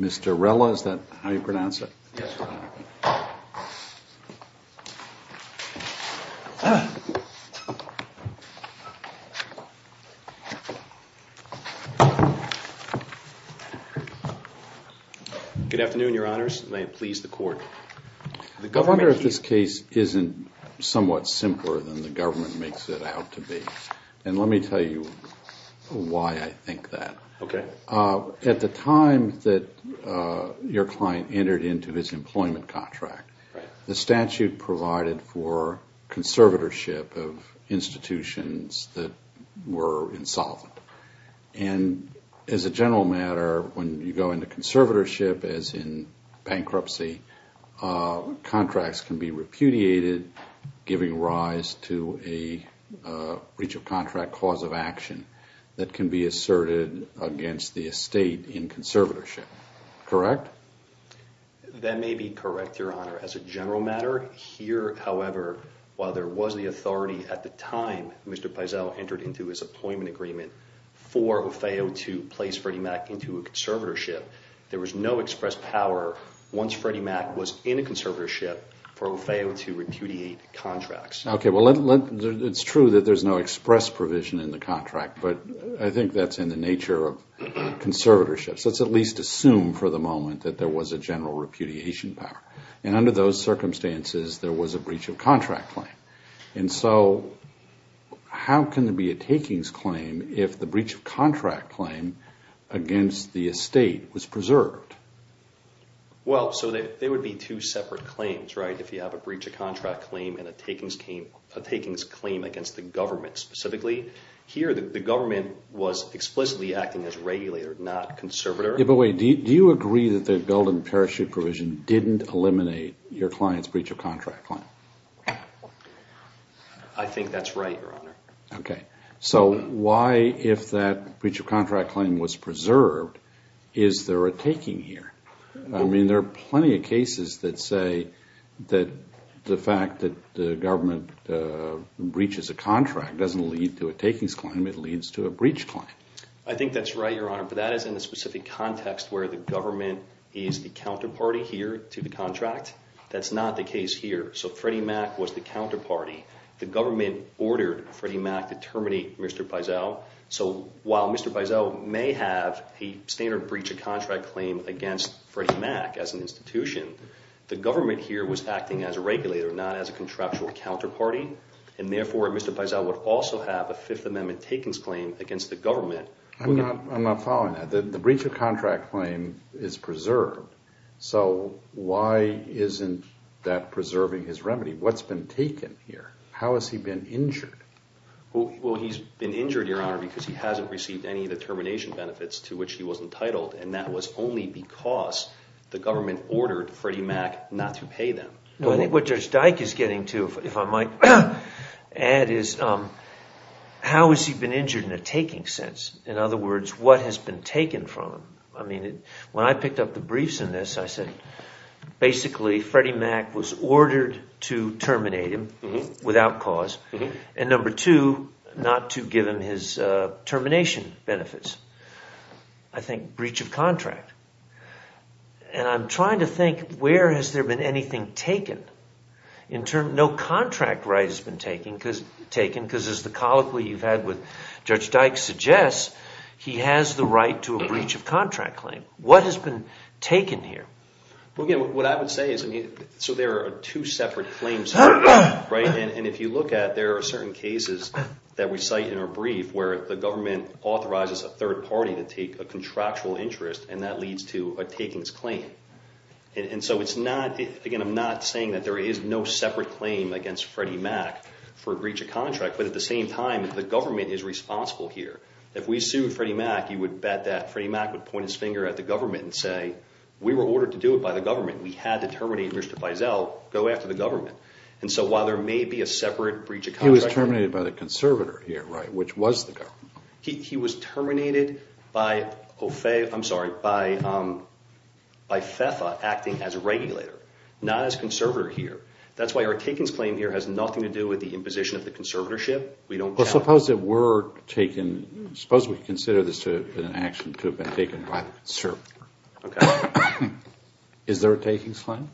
Mr. Rella, is that how you pronounce it? Good afternoon, your honors. May it please the court. I wonder if this case isn't somewhat simpler than the government makes it out to be. And let me tell you why I think that. Okay. At the time that your client entered into his employment contract, the statute provided for conservatorship of institutions that were insolvent. And as a general matter, when you go into conservatorship, as in bankruptcy, contracts can be repudiated, giving rise to a breach of contract cause of action that can be asserted against the estate in conservatorship. Correct? That may be correct, your honor. As a general matter, here, however, while there was the authority at the time that Mr. Pezel entered into his employment agreement for Ofeo to place Freddie Mac into a conservatorship, there was no express power once Freddie Mac was in a conservatorship for Ofeo to repudiate contracts. Okay. Well, it's true that there's no express provision in the contract, but I think that's in the nature of conservatorship. So let's at least assume for the moment that there was a general repudiation power. And under those circumstances, there was a breach of contract claim. And so how can there be a takings claim if the breach of contract claim against the estate was preserved? Well, so there would be two separate claims, right, if you have a breach of contract claim and a takings claim against the government specifically. Here, the government was explicitly acting as regulator, not conservator. Yeah, but wait, do you agree that the Belden parachute provision didn't eliminate your client's breach of contract claim? I think that's right, Your Honor. Okay. So why, if that breach of contract claim was preserved, is there a taking here? I mean, there are plenty of cases that say that the fact that the government breaches a contract doesn't lead to a takings claim, it leads to a breach claim. I think that's right, Your Honor, but that is in the specific context where the government is the counterparty here to the contract. That's not the case here. So Freddie Mac was the counterparty. The government ordered Freddie Mac to terminate Mr. Peisel. So while Mr. Peisel may have a standard breach of contract claim against Freddie Mac as an institution, the government here was acting as a regulator, not as a contractual counterparty, and therefore Mr. Peisel would also have a Fifth Amendment takings claim against the government. I'm not following that. The breach of contract claim is preserved. So why isn't that preserving his remedy? What's been taken here? How has he been injured? Well, he's been injured, Your Honor, because he hasn't received any of the termination benefits to which he was entitled, and that was only because the government ordered Freddie Mac not to pay them. What Judge Dyke is getting to, if I might add, is how has he been injured in a taking sense? In other words, what has been taken from him? I mean, when I picked up the briefs in this, I said, basically, Freddie Mac was ordered to terminate him without cause, and number two, not to give him his termination benefits. I think breach of contract. And I'm trying to think where has there been anything taken. No contract right has been taken because, as the colloquy you've had with Judge Dyke suggests, he has the right to a breach of contract claim. What has been taken here? Well, again, what I would say is, I mean, so there are two separate claims here, right? And if you look at, there are certain cases that we cite in our brief where the government authorizes a third party to take a contractual interest, and that leads to a takings claim. And so it's not, again, I'm not saying that there is no separate claim against Freddie Mac for breach of contract, but at the same time, the government is responsible here. If we sued Freddie Mac, you would bet that Freddie Mac would point his finger at the government and say, we were ordered to do it by the government. We had to terminate Mr. Feisal, go after the government. And so while there may be a separate breach of contract. He was terminated by the conservator here, right, which was the government. He was terminated by FEFA acting as a regulator, not as conservator here. That's why our takings claim here has nothing to do with the imposition of the conservatorship. Well, suppose it were taken, suppose we consider this to have been an action to have been taken by the conservator. Okay. Is there a takings claim?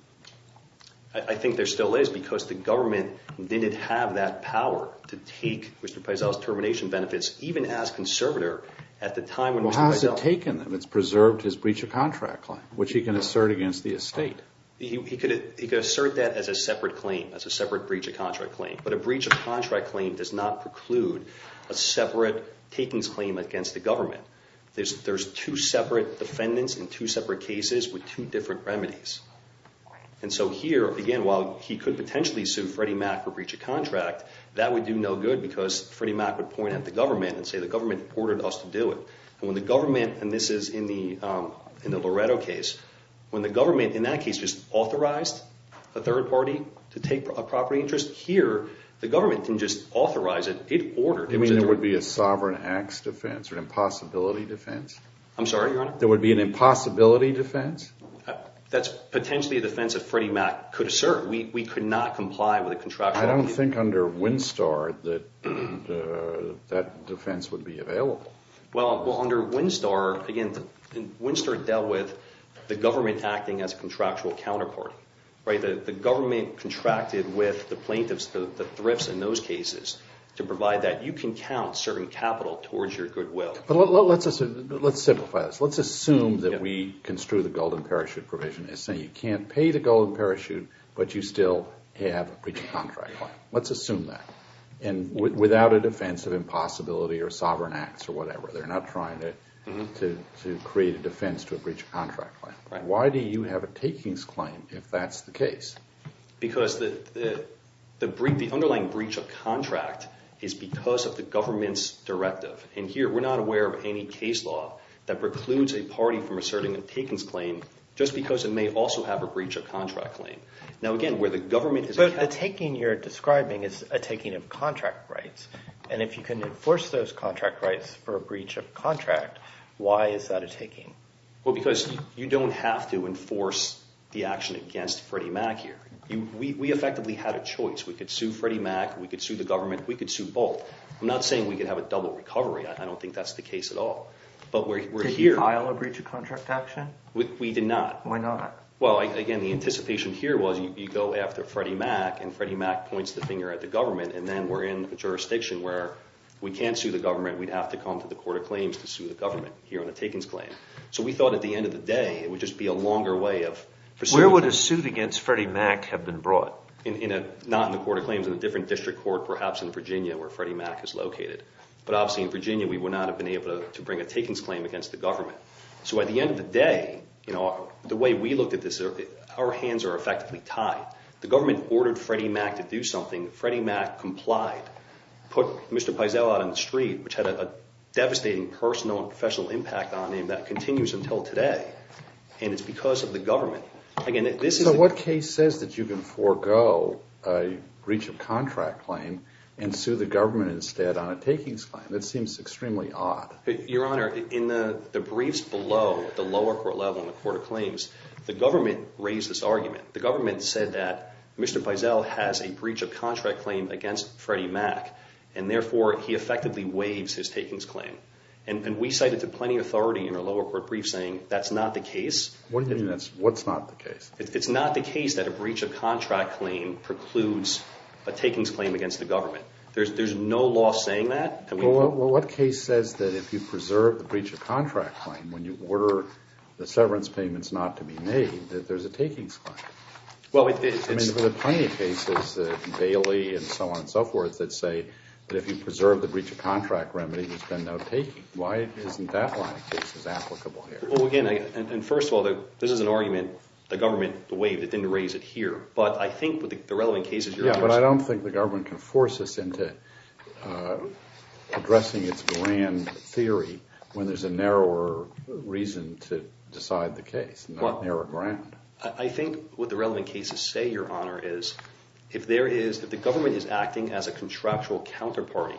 I think there still is because the government didn't have that power to take Mr. Feisal's termination benefits, even as conservator at the time when Mr. Feisal. Well, how has it taken them? It's preserved his breach of contract claim, which he can assert against the estate. He could assert that as a separate claim, as a separate breach of contract claim. But a breach of contract claim does not preclude a separate takings claim against the government. There's two separate defendants in two separate cases with two different remedies. And so here, again, while he could potentially sue Freddie Mac for breach of contract, that would do no good because Freddie Mac would point at the government and say the government ordered us to do it. And when the government, and this is in the Loretto case, when the government in that case just authorized a third party to take a property interest, here the government can just authorize it. It ordered. You mean there would be a sovereign acts defense or an impossibility defense? I'm sorry, Your Honor? There would be an impossibility defense? That's potentially a defense that Freddie Mac could assert. We could not comply with a contractual. I don't think under Winstar that that defense would be available. Well, under Winstar, again, Winstar dealt with the government acting as a contractual counterpart. The government contracted with the plaintiffs, the thrifts in those cases, to provide that. You can count certain capital towards your goodwill. Let's simplify this. Let's assume that we construe the golden parachute provision as saying you can't pay the golden parachute, but you still have a breach of contract claim. Let's assume that. And without a defense of impossibility or sovereign acts or whatever. They're not trying to create a defense to a breach of contract claim. Why do you have a takings claim if that's the case? Because the underlying breach of contract is because of the government's directive. And here, we're not aware of any case law that precludes a party from asserting a takings claim just because it may also have a breach of contract claim. Now, again, where the government is accountable. But the taking you're describing is a taking of contract rights. And if you can enforce those contract rights for a breach of contract, why is that a taking? Well, because you don't have to enforce the action against Freddie Mac here. We effectively had a choice. We could sue Freddie Mac. We could sue the government. We could sue both. I'm not saying we could have a double recovery. I don't think that's the case at all. Did you file a breach of contract action? We did not. Why not? Well, again, the anticipation here was you go after Freddie Mac, and Freddie Mac points the finger at the government, and then we're in a jurisdiction where we can't sue the government. We'd have to come to the Court of Claims to sue the government here on a takings claim. So we thought at the end of the day it would just be a longer way of pursuing. Where would a suit against Freddie Mac have been brought? Not in the Court of Claims. In a different district court perhaps in Virginia where Freddie Mac is located. But obviously in Virginia we would not have been able to bring a takings claim against the government. So at the end of the day, the way we looked at this, our hands are effectively tied. The government ordered Freddie Mac to do something. Freddie Mac complied. Put Mr. Peisel out on the street, which had a devastating personal and professional impact on him that continues until today. And it's because of the government. So what case says that you can forego a breach of contract claim and sue the government instead on a takings claim? That seems extremely odd. Your Honor, in the briefs below at the lower court level in the Court of Claims, the government raised this argument. The government said that Mr. Peisel has a breach of contract claim against Freddie Mac, and therefore he effectively waives his takings claim. And we cited to plenty authority in our lower court brief saying that's not the case. What do you mean that's not the case? It's not the case that a breach of contract claim precludes a takings claim against the government. There's no law saying that. Well, what case says that if you preserve the breach of contract claim when you order the severance payments not to be made, that there's a takings claim? I mean, there are plenty of cases, Bailey and so on and so forth, that say that if you preserve the breach of contract remedy, there's been no taking. Why isn't that line of cases applicable here? Well, again, and first of all, this is an argument the government waived. It didn't raise it here. But I think with the relevant cases you're addressing— Yeah, but I don't think the government can force us into addressing its grand theory when there's a narrower reason to decide the case, not narrow ground. I think what the relevant cases say, Your Honor, is if the government is acting as a contractual counterparty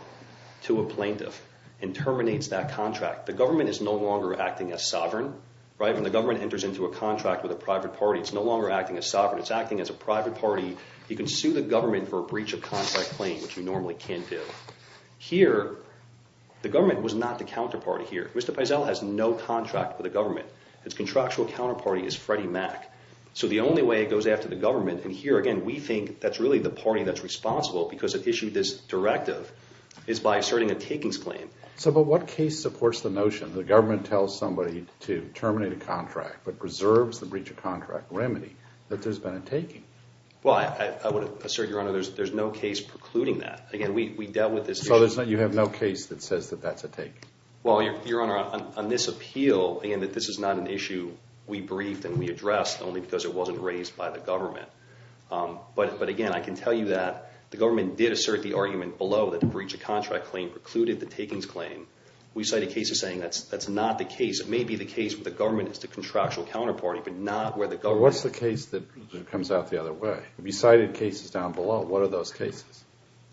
to a plaintiff and terminates that contract, the government is no longer acting as sovereign. When the government enters into a contract with a private party, it's no longer acting as sovereign. It's acting as a private party. You can sue the government for a breach of contract claim, which you normally can't do. Here, the government was not the counterparty here. Mr. Peisel has no contract with the government. Its contractual counterparty is Freddie Mac. So the only way it goes after the government, and here, again, we think that's really the party that's responsible because it issued this directive, is by asserting a takings claim. But what case supports the notion the government tells somebody to terminate a contract but preserves the breach of contract remedy, that there's been a taking? Well, I would assert, Your Honor, there's no case precluding that. Again, we dealt with this issue— So you have no case that says that that's a taking? Well, Your Honor, on this appeal, again, this is not an issue we briefed and we addressed only because it wasn't raised by the government. But, again, I can tell you that the government did assert the argument below that the breach of contract claim precluded the takings claim. We cited cases saying that's not the case. It may be the case where the government is the contractual counterparty, but not where the government— What's the case that comes out the other way?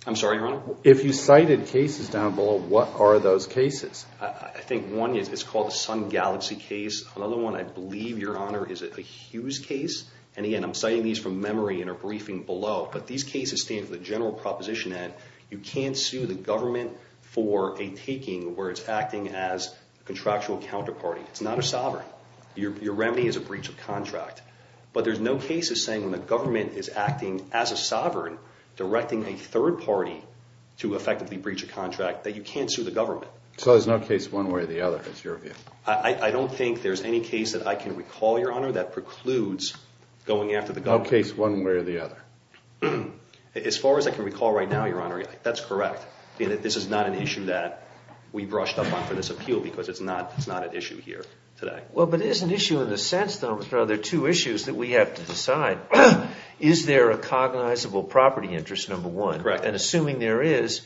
I'm sorry, Your Honor? If you cited cases down below, what are those cases? I think one is called the Sun Galaxy case. Another one, I believe, Your Honor, is a Hughes case. And, again, I'm citing these from memory in our briefing below. But these cases stand for the general proposition that you can't sue the government for a taking where it's acting as a contractual counterparty. It's not a sovereign. Your remedy is a breach of contract. But there's no case of saying when the government is acting as a sovereign, directing a third party to effectively breach a contract, that you can't sue the government. So there's no case one way or the other, is your view? I don't think there's any case that I can recall, Your Honor, that precludes going after the government. No case one way or the other? As far as I can recall right now, Your Honor, that's correct. This is not an issue that we brushed up on for this appeal because it's not an issue here today. Well, but it is an issue in the sense, though, there are two issues that we have to decide. Is there a cognizable property interest, number one, and assuming there is,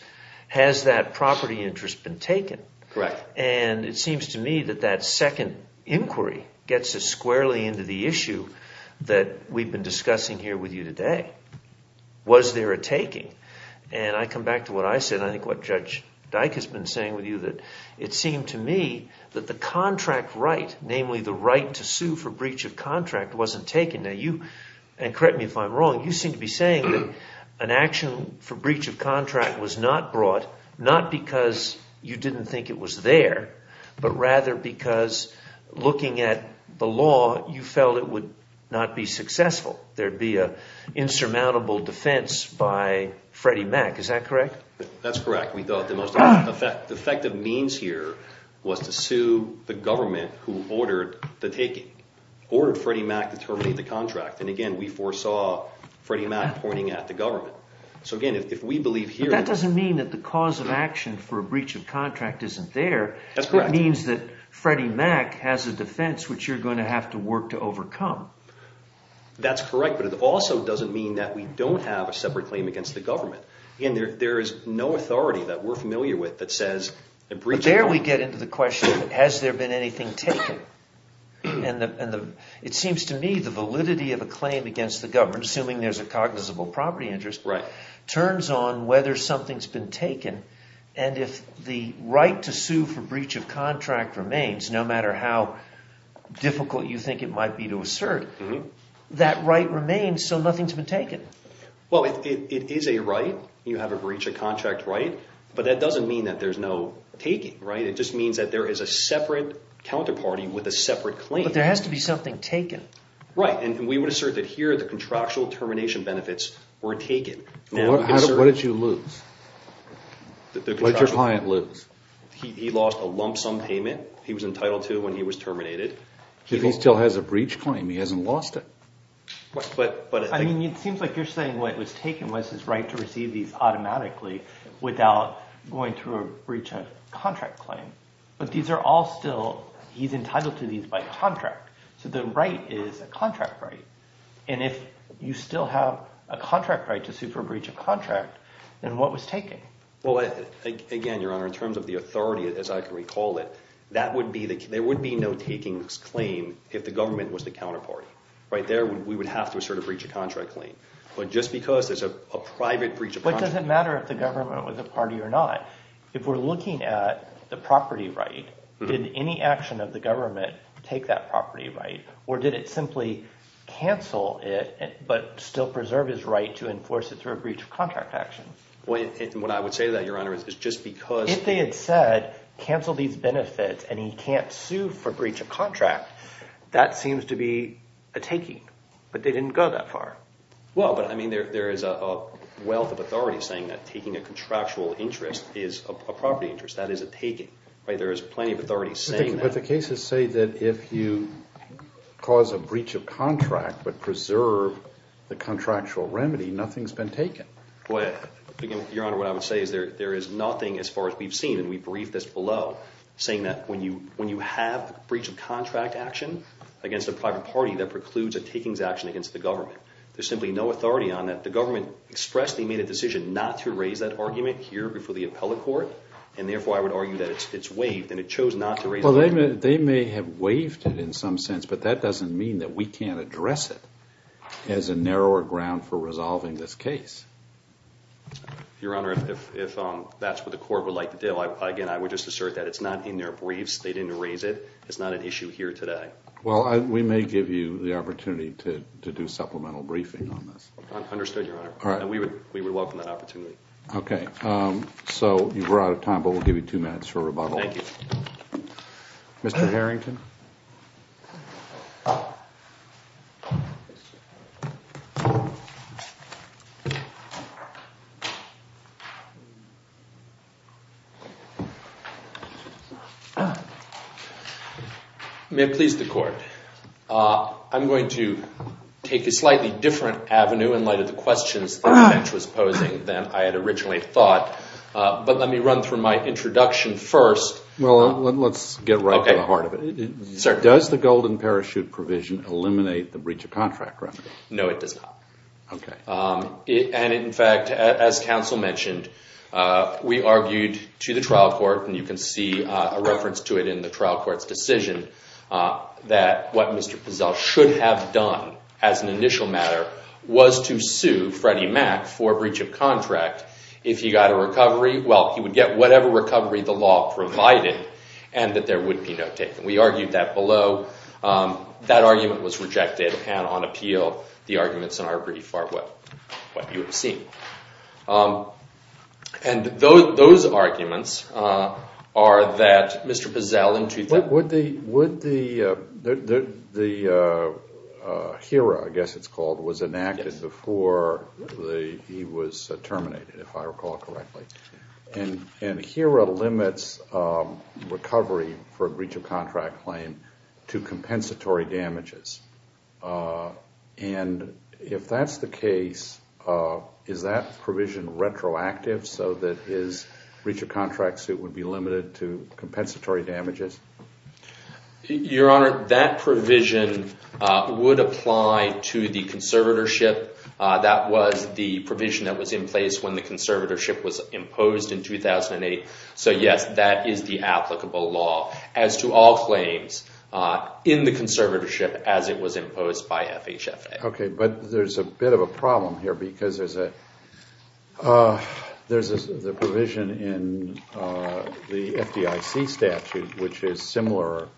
has that property interest been taken? Correct. And it seems to me that that second inquiry gets us squarely into the issue that we've been discussing here with you today. Was there a taking? And I come back to what I said, and I think what Judge Dyke has been saying with you, that it seemed to me that the contract right, namely the right to sue for breach of contract, wasn't taken. Now you, and correct me if I'm wrong, you seem to be saying that an action for breach of contract was not brought, not because you didn't think it was there, but rather because looking at the law, you felt it would not be successful. There would be an insurmountable defense by Freddie Mac. Is that correct? That's correct. We thought the most effective means here was to sue the government who ordered the taking, ordered Freddie Mac to terminate the contract. And again, we foresaw Freddie Mac pointing at the government. So again, if we believe here— That doesn't mean that the cause of action for a breach of contract isn't there. That's correct. It means that Freddie Mac has a defense which you're going to have to work to overcome. That's correct, but it also doesn't mean that we don't have a separate claim against the government. There we get into the question, has there been anything taken? And it seems to me the validity of a claim against the government, assuming there's a cognizable property interest, turns on whether something's been taken. And if the right to sue for breach of contract remains, no matter how difficult you think it might be to assert, that right remains so nothing's been taken. Well, it is a right. You have a breach of contract right. But that doesn't mean that there's no taking, right? It just means that there is a separate counterparty with a separate claim. But there has to be something taken. Right, and we would assert that here the contractual termination benefits were taken. What did you lose? What did your client lose? He lost a lump sum payment he was entitled to when he was terminated. If he still has a breach claim, he hasn't lost it. I mean, it seems like you're saying what was taken was his right to receive these automatically without going through a breach of contract claim. But these are all still, he's entitled to these by contract. So the right is a contract right. And if you still have a contract right to sue for a breach of contract, then what was taken? Well, again, Your Honor, in terms of the authority, as I can recall it, there would be no taking this claim if the government was the counterparty. Right there, we would have to assert a breach of contract claim. But just because there's a private breach of contract claim doesn't matter if the government was a party or not. If we're looking at the property right, did any action of the government take that property right? Or did it simply cancel it but still preserve his right to enforce it through a breach of contract action? What I would say to that, Your Honor, is just because – If they had said cancel these benefits and he can't sue for breach of contract, that seems to be a taking, but they didn't go that far. Well, but, I mean, there is a wealth of authority saying that taking a contractual interest is a property interest. That is a taking. There is plenty of authority saying that. But the cases say that if you cause a breach of contract but preserve the contractual remedy, nothing's been taken. Well, again, Your Honor, what I would say is there is nothing as far as we've seen, and we briefed this below, saying that when you have breach of contract action against a private party that precludes a takings action against the government, there's simply no authority on that. The government expressed they made a decision not to raise that argument here before the appellate court, and therefore I would argue that it's waived, and it chose not to raise the argument. Well, they may have waived it in some sense, but that doesn't mean that we can't address it as a narrower ground for resolving this case. Your Honor, if that's what the court would like to do, again, I would just assert that it's not in their briefs. They didn't raise it. It's not an issue here today. Well, we may give you the opportunity to do supplemental briefing on this. Understood, Your Honor. All right. And we would welcome that opportunity. Okay. So we're out of time, but we'll give you two minutes for rebuttal. Thank you. Mr. Harrington? May it please the Court. I'm going to take a slightly different avenue in light of the questions that Mitch was posing than I had originally thought, but let me run through my introduction first. Well, let's get right to the heart of it. Does the Golden Parachute provision eliminate the breach of contract record? No, it does not. Okay. And, in fact, as counsel mentioned, we argued to the trial court, and you can see a reference to it in the trial court's decision, that what Mr. Pazell should have done as an initial matter was to sue Freddie Mac for breach of contract if he got a recovery, well, he would get whatever recovery the law provided, and that there would be no taking. We argued that below. That argument was rejected, and on appeal, the arguments in our brief are what you have seen. And those arguments are that Mr. Pazell in 2003 Would the HERA, I guess it's called, was enacted before he was terminated, if I recall correctly. And HERA limits recovery for a breach of contract claim to compensatory damages. And if that's the case, is that provision retroactive, so that his breach of contract suit would be limited to compensatory damages? Your Honor, that provision would apply to the conservatorship. That was the provision that was in place when the conservatorship was imposed in 2008. So, yes, that is the applicable law as to all claims in the conservatorship as it was imposed by FHFA. Okay, but there's a bit of a problem here because there's a provision in the FDIC statute which is similar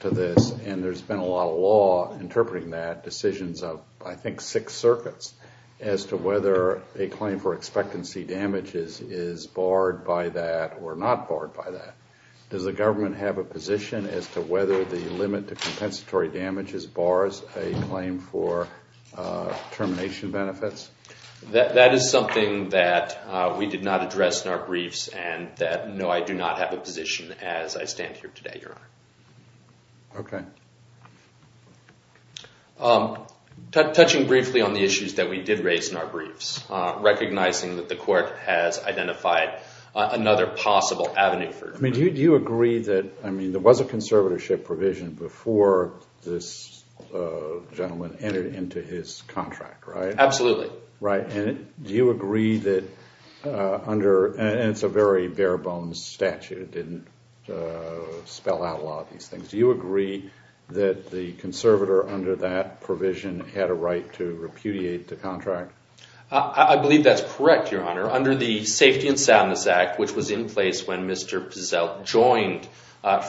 to this, and there's been a lot of law interpreting that, decisions of I think six circuits, as to whether a claim for expectancy damages is barred by that or not barred by that. Does the government have a position as to whether the limit to compensatory damages bars a claim for termination benefits? That is something that we did not address in our briefs, and no, I do not have a position as I stand here today, Your Honor. Okay. Touching briefly on the issues that we did raise in our briefs, recognizing that the court has identified another possible avenue for it. I mean, do you agree that, I mean, there was a conservatorship provision before this gentleman entered into his contract, right? Absolutely. Right, and do you agree that under, and it's a very bare bones statute. It didn't spell out a lot of these things. Do you agree that the conservator under that provision had a right to repudiate the contract? I believe that's correct, Your Honor. Under the Safety and Soundness Act, which was in place when Mr. Pazell joined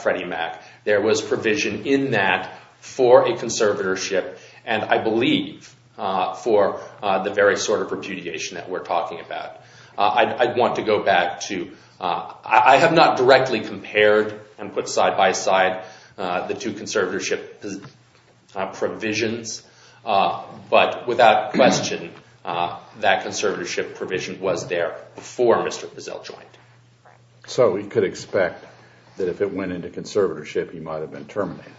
Freddie Mac, there was provision in that for a conservatorship, and I believe for the very sort of repudiation that we're talking about. I'd want to go back to, I have not directly compared and put side by side the two conservatorship provisions, but without question, that conservatorship provision was there before Mr. Pazell joined. So we could expect that if it went into conservatorship, he might have been terminated.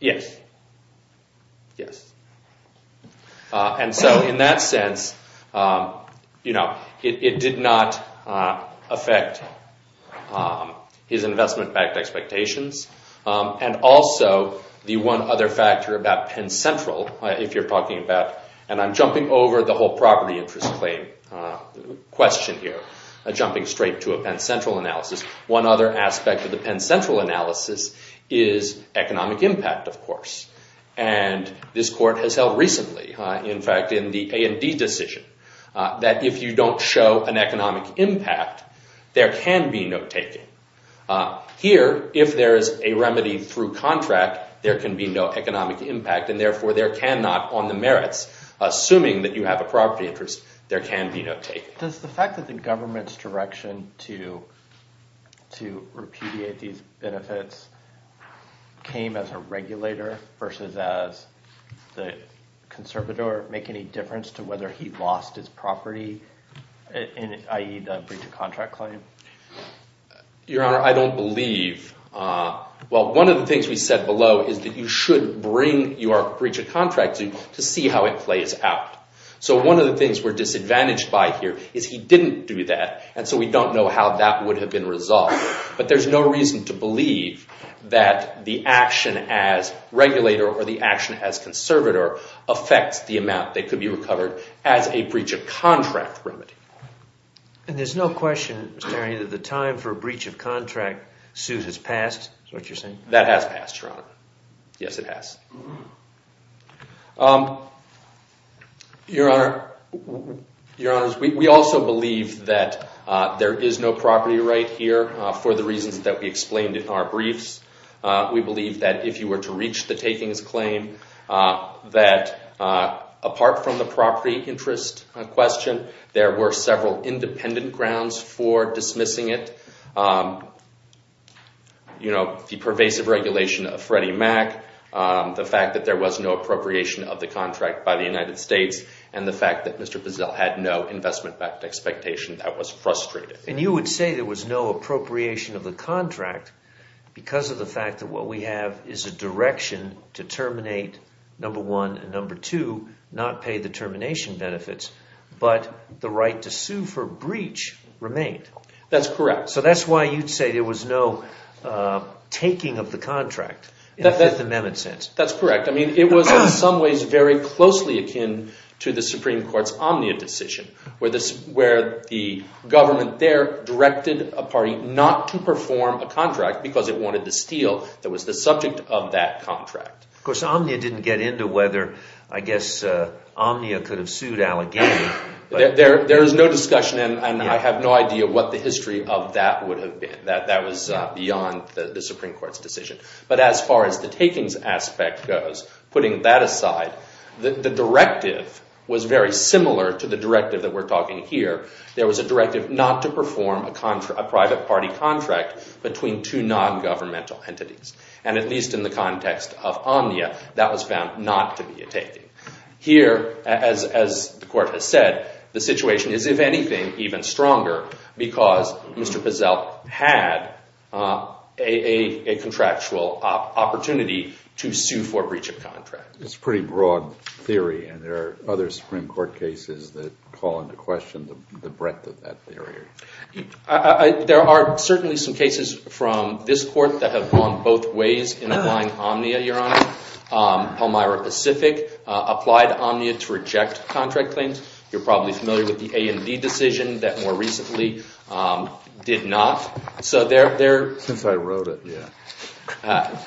Yes. Yes. And so in that sense, you know, it did not affect his investment-backed expectations. And also, the one other factor about Penn Central, if you're talking about, and I'm jumping over the whole property interest claim question here, jumping straight to a Penn Central analysis. One other aspect of the Penn Central analysis is economic impact, of course. And this court has held recently, in fact, in the A&D decision, that if you don't show an economic impact, there can be no taking. Here, if there is a remedy through contract, there can be no economic impact, and therefore there cannot on the merits, assuming that you have a property interest, there can be no taking. Does the fact that the government's direction to repudiate these benefits came as a regulator versus as the conservator make any difference to whether he lost his property, i.e. the breach of contract claim? Your Honor, I don't believe. Well, one of the things we said below is that you should bring your breach of contract to see how it plays out. So one of the things we're disadvantaged by here is he didn't do that, and so we don't know how that would have been resolved. But there's no reason to believe that the action as regulator or the action as conservator affects the amount that could be recovered as a breach of contract remedy. And there's no question, Mr. Henry, that the time for a breach of contract suit has passed, is what you're saying? That has passed, Your Honor. Yes, it has. Your Honor, we also believe that there is no property right here for the reasons that we explained in our briefs. We believe that if you were to reach the takings claim, that apart from the property interest question, there were several independent grounds for dismissing it. You know, the pervasive regulation of Freddie Mac, the fact that there was no appropriation of the contract by the United States, and the fact that Mr. Bozell had no investment expectation. That was frustrating. And you would say there was no appropriation of the contract because of the fact that what we have is a direction to terminate number one and number two, not pay the termination benefits, but the right to sue for breach remained. That's correct. So that's why you'd say there was no taking of the contract in the Fifth Amendment sense. That's correct. I mean, it was in some ways very closely akin to the Supreme Court's Omnia decision, where the government there directed a party not to perform a contract because it wanted to steal. That was the subject of that contract. Of course, Omnia didn't get into whether, I guess, Omnia could have sued Allegheny. There is no discussion, and I have no idea what the history of that would have been. That was beyond the Supreme Court's decision. But as far as the takings aspect goes, putting that aside, the directive was very similar to the directive that we're talking here. There was a directive not to perform a private party contract between two nongovernmental entities. And at least in the context of Omnia, that was found not to be a taking. Here, as the Court has said, the situation is, if anything, even stronger because Mr. Pazell had a contractual opportunity to sue for breach of contract. It's a pretty broad theory, and there are other Supreme Court cases that call into question the breadth of that theory. There are certainly some cases from this Court that have gone both ways in applying Omnia, Your Honor. Palmyra Pacific applied Omnia to reject contract claims. You're probably familiar with the A&D decision that more recently did not. Since I wrote it, yeah.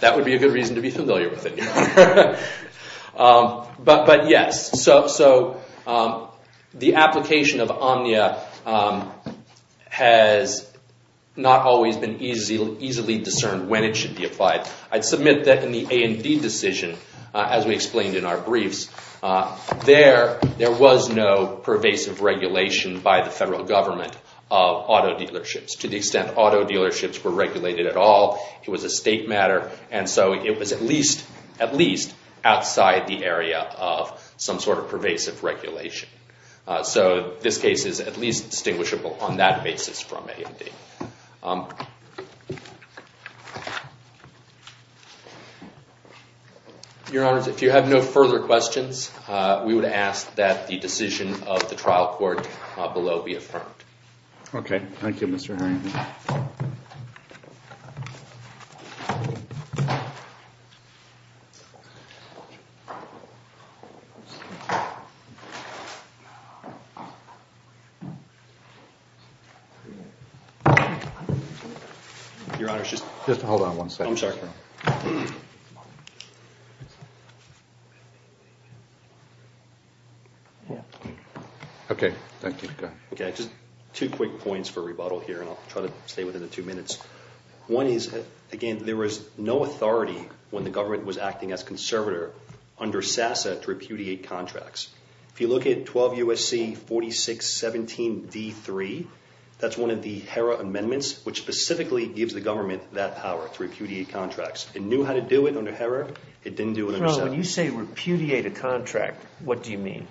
That would be a good reason to be familiar with it. But yes, the application of Omnia has not always been easily discerned when it should be applied. I'd submit that in the A&D decision, as we explained in our briefs, there was no pervasive regulation by the federal government of auto dealerships to the extent auto dealerships were regulated at all. It was a state matter, and so it was at least outside the area of some sort of pervasive regulation. So this case is at least distinguishable on that basis from A&D. Your Honors, if you have no further questions, we would ask that the decision of the trial court below be affirmed. Okay. Thank you, Mr. Harrington. Your Honors, just hold on one second. I'm sorry. Okay. Thank you. Go ahead. Okay. Just two quick points for rebuttal here, and I'll try to stay within the two minutes. One is, again, there was no authority when the government was acting as conservator under SASA to repudiate contracts. If you look at 12 U.S.C. 4617D3, that's one of the HERA amendments, which specifically gives the government that power to repudiate contracts. It knew how to do it under HERA. It didn't do it under SASA. When you say repudiate a contract, what do you mean?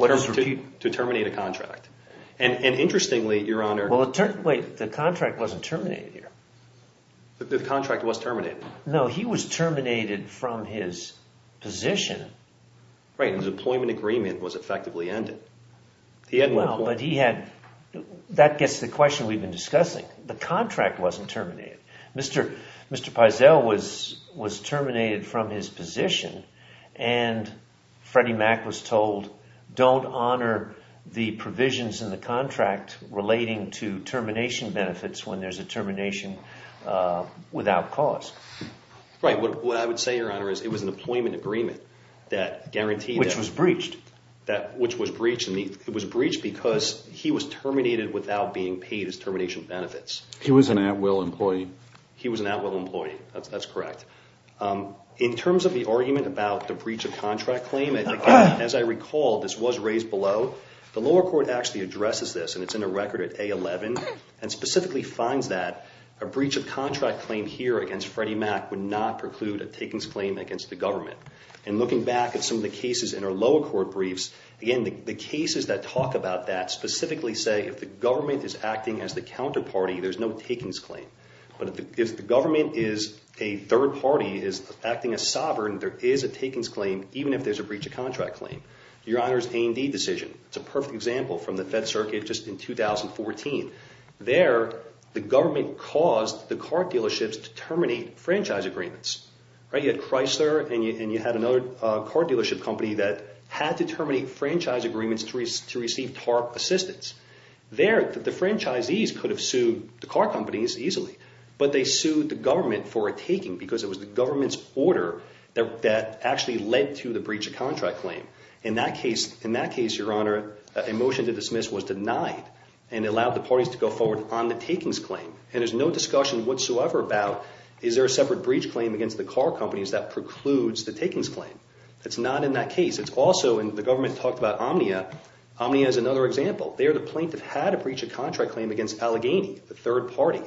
To terminate a contract. And interestingly, Your Honor— Wait. The contract wasn't terminated here. The contract was terminated. No. He was terminated from his position. Right. His employment agreement was effectively ended. But he had—that gets to the question we've been discussing. The contract wasn't terminated. Mr. Peisel was terminated from his position, and Freddie Mac was told, don't honor the provisions in the contract relating to termination benefits when there's a termination without cause. Right. What I would say, Your Honor, is it was an employment agreement that guaranteed— Which was breached. Which was breached, and it was breached because he was terminated without being paid his termination benefits. He was an at-will employee. He was an at-will employee. That's correct. In terms of the argument about the breach of contract claim, as I recall, this was raised below. The lower court actually addresses this, and it's in the record at A11, and specifically finds that a breach of contract claim here against Freddie Mac would not preclude a takings claim against the government. And looking back at some of the cases in our lower court briefs, again, the cases that talk about that specifically say, if the government is acting as the counterparty, there's no takings claim. But if the government is a third party, is acting as sovereign, there is a takings claim even if there's a breach of contract claim. Your Honor's A&D decision. It's a perfect example from the Fed Circuit just in 2014. There, the government caused the car dealerships to terminate franchise agreements. You had Chrysler, and you had another car dealership company that had to terminate franchise agreements to receive TARP assistance. There, the franchisees could have sued the car companies easily, but they sued the government for a taking because it was the government's order that actually led to the breach of contract claim. In that case, Your Honor, a motion to dismiss was denied and allowed the parties to go forward on the takings claim. And there's no discussion whatsoever about, is there a separate breach claim against the car companies that precludes the takings claim. It's not in that case. It's also in the government talked about Omnia. Omnia is another example. There, the plaintiff had a breach of contract claim against Allegheny, the third party,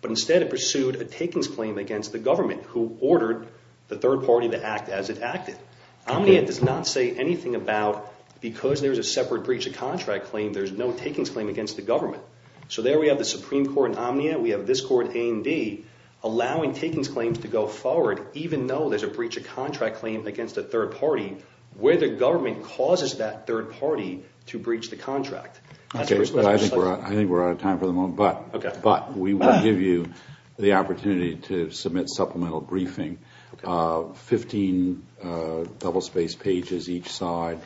but instead it pursued a takings claim against the government who ordered the third party to act as it acted. Omnia does not say anything about, because there's a separate breach of contract claim, So there we have the Supreme Court in Omnia. We have this court, A&D, allowing takings claims to go forward even though there's a breach of contract claim against a third party where the government causes that third party to breach the contract. I think we're out of time for the moment, but we will give you the opportunity to submit supplemental briefing, 15 double-spaced pages each side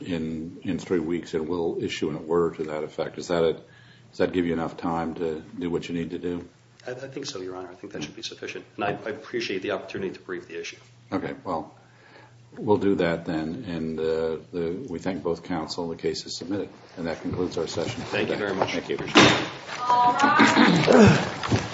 in three weeks, and we'll issue an order to that effect. Does that give you enough time to do what you need to do? I think so, Your Honor. I think that should be sufficient, and I appreciate the opportunity to brief the issue. Okay. Well, we'll do that then, and we thank both counsel the case is submitted, and that concludes our session. Thank you very much. Thank you.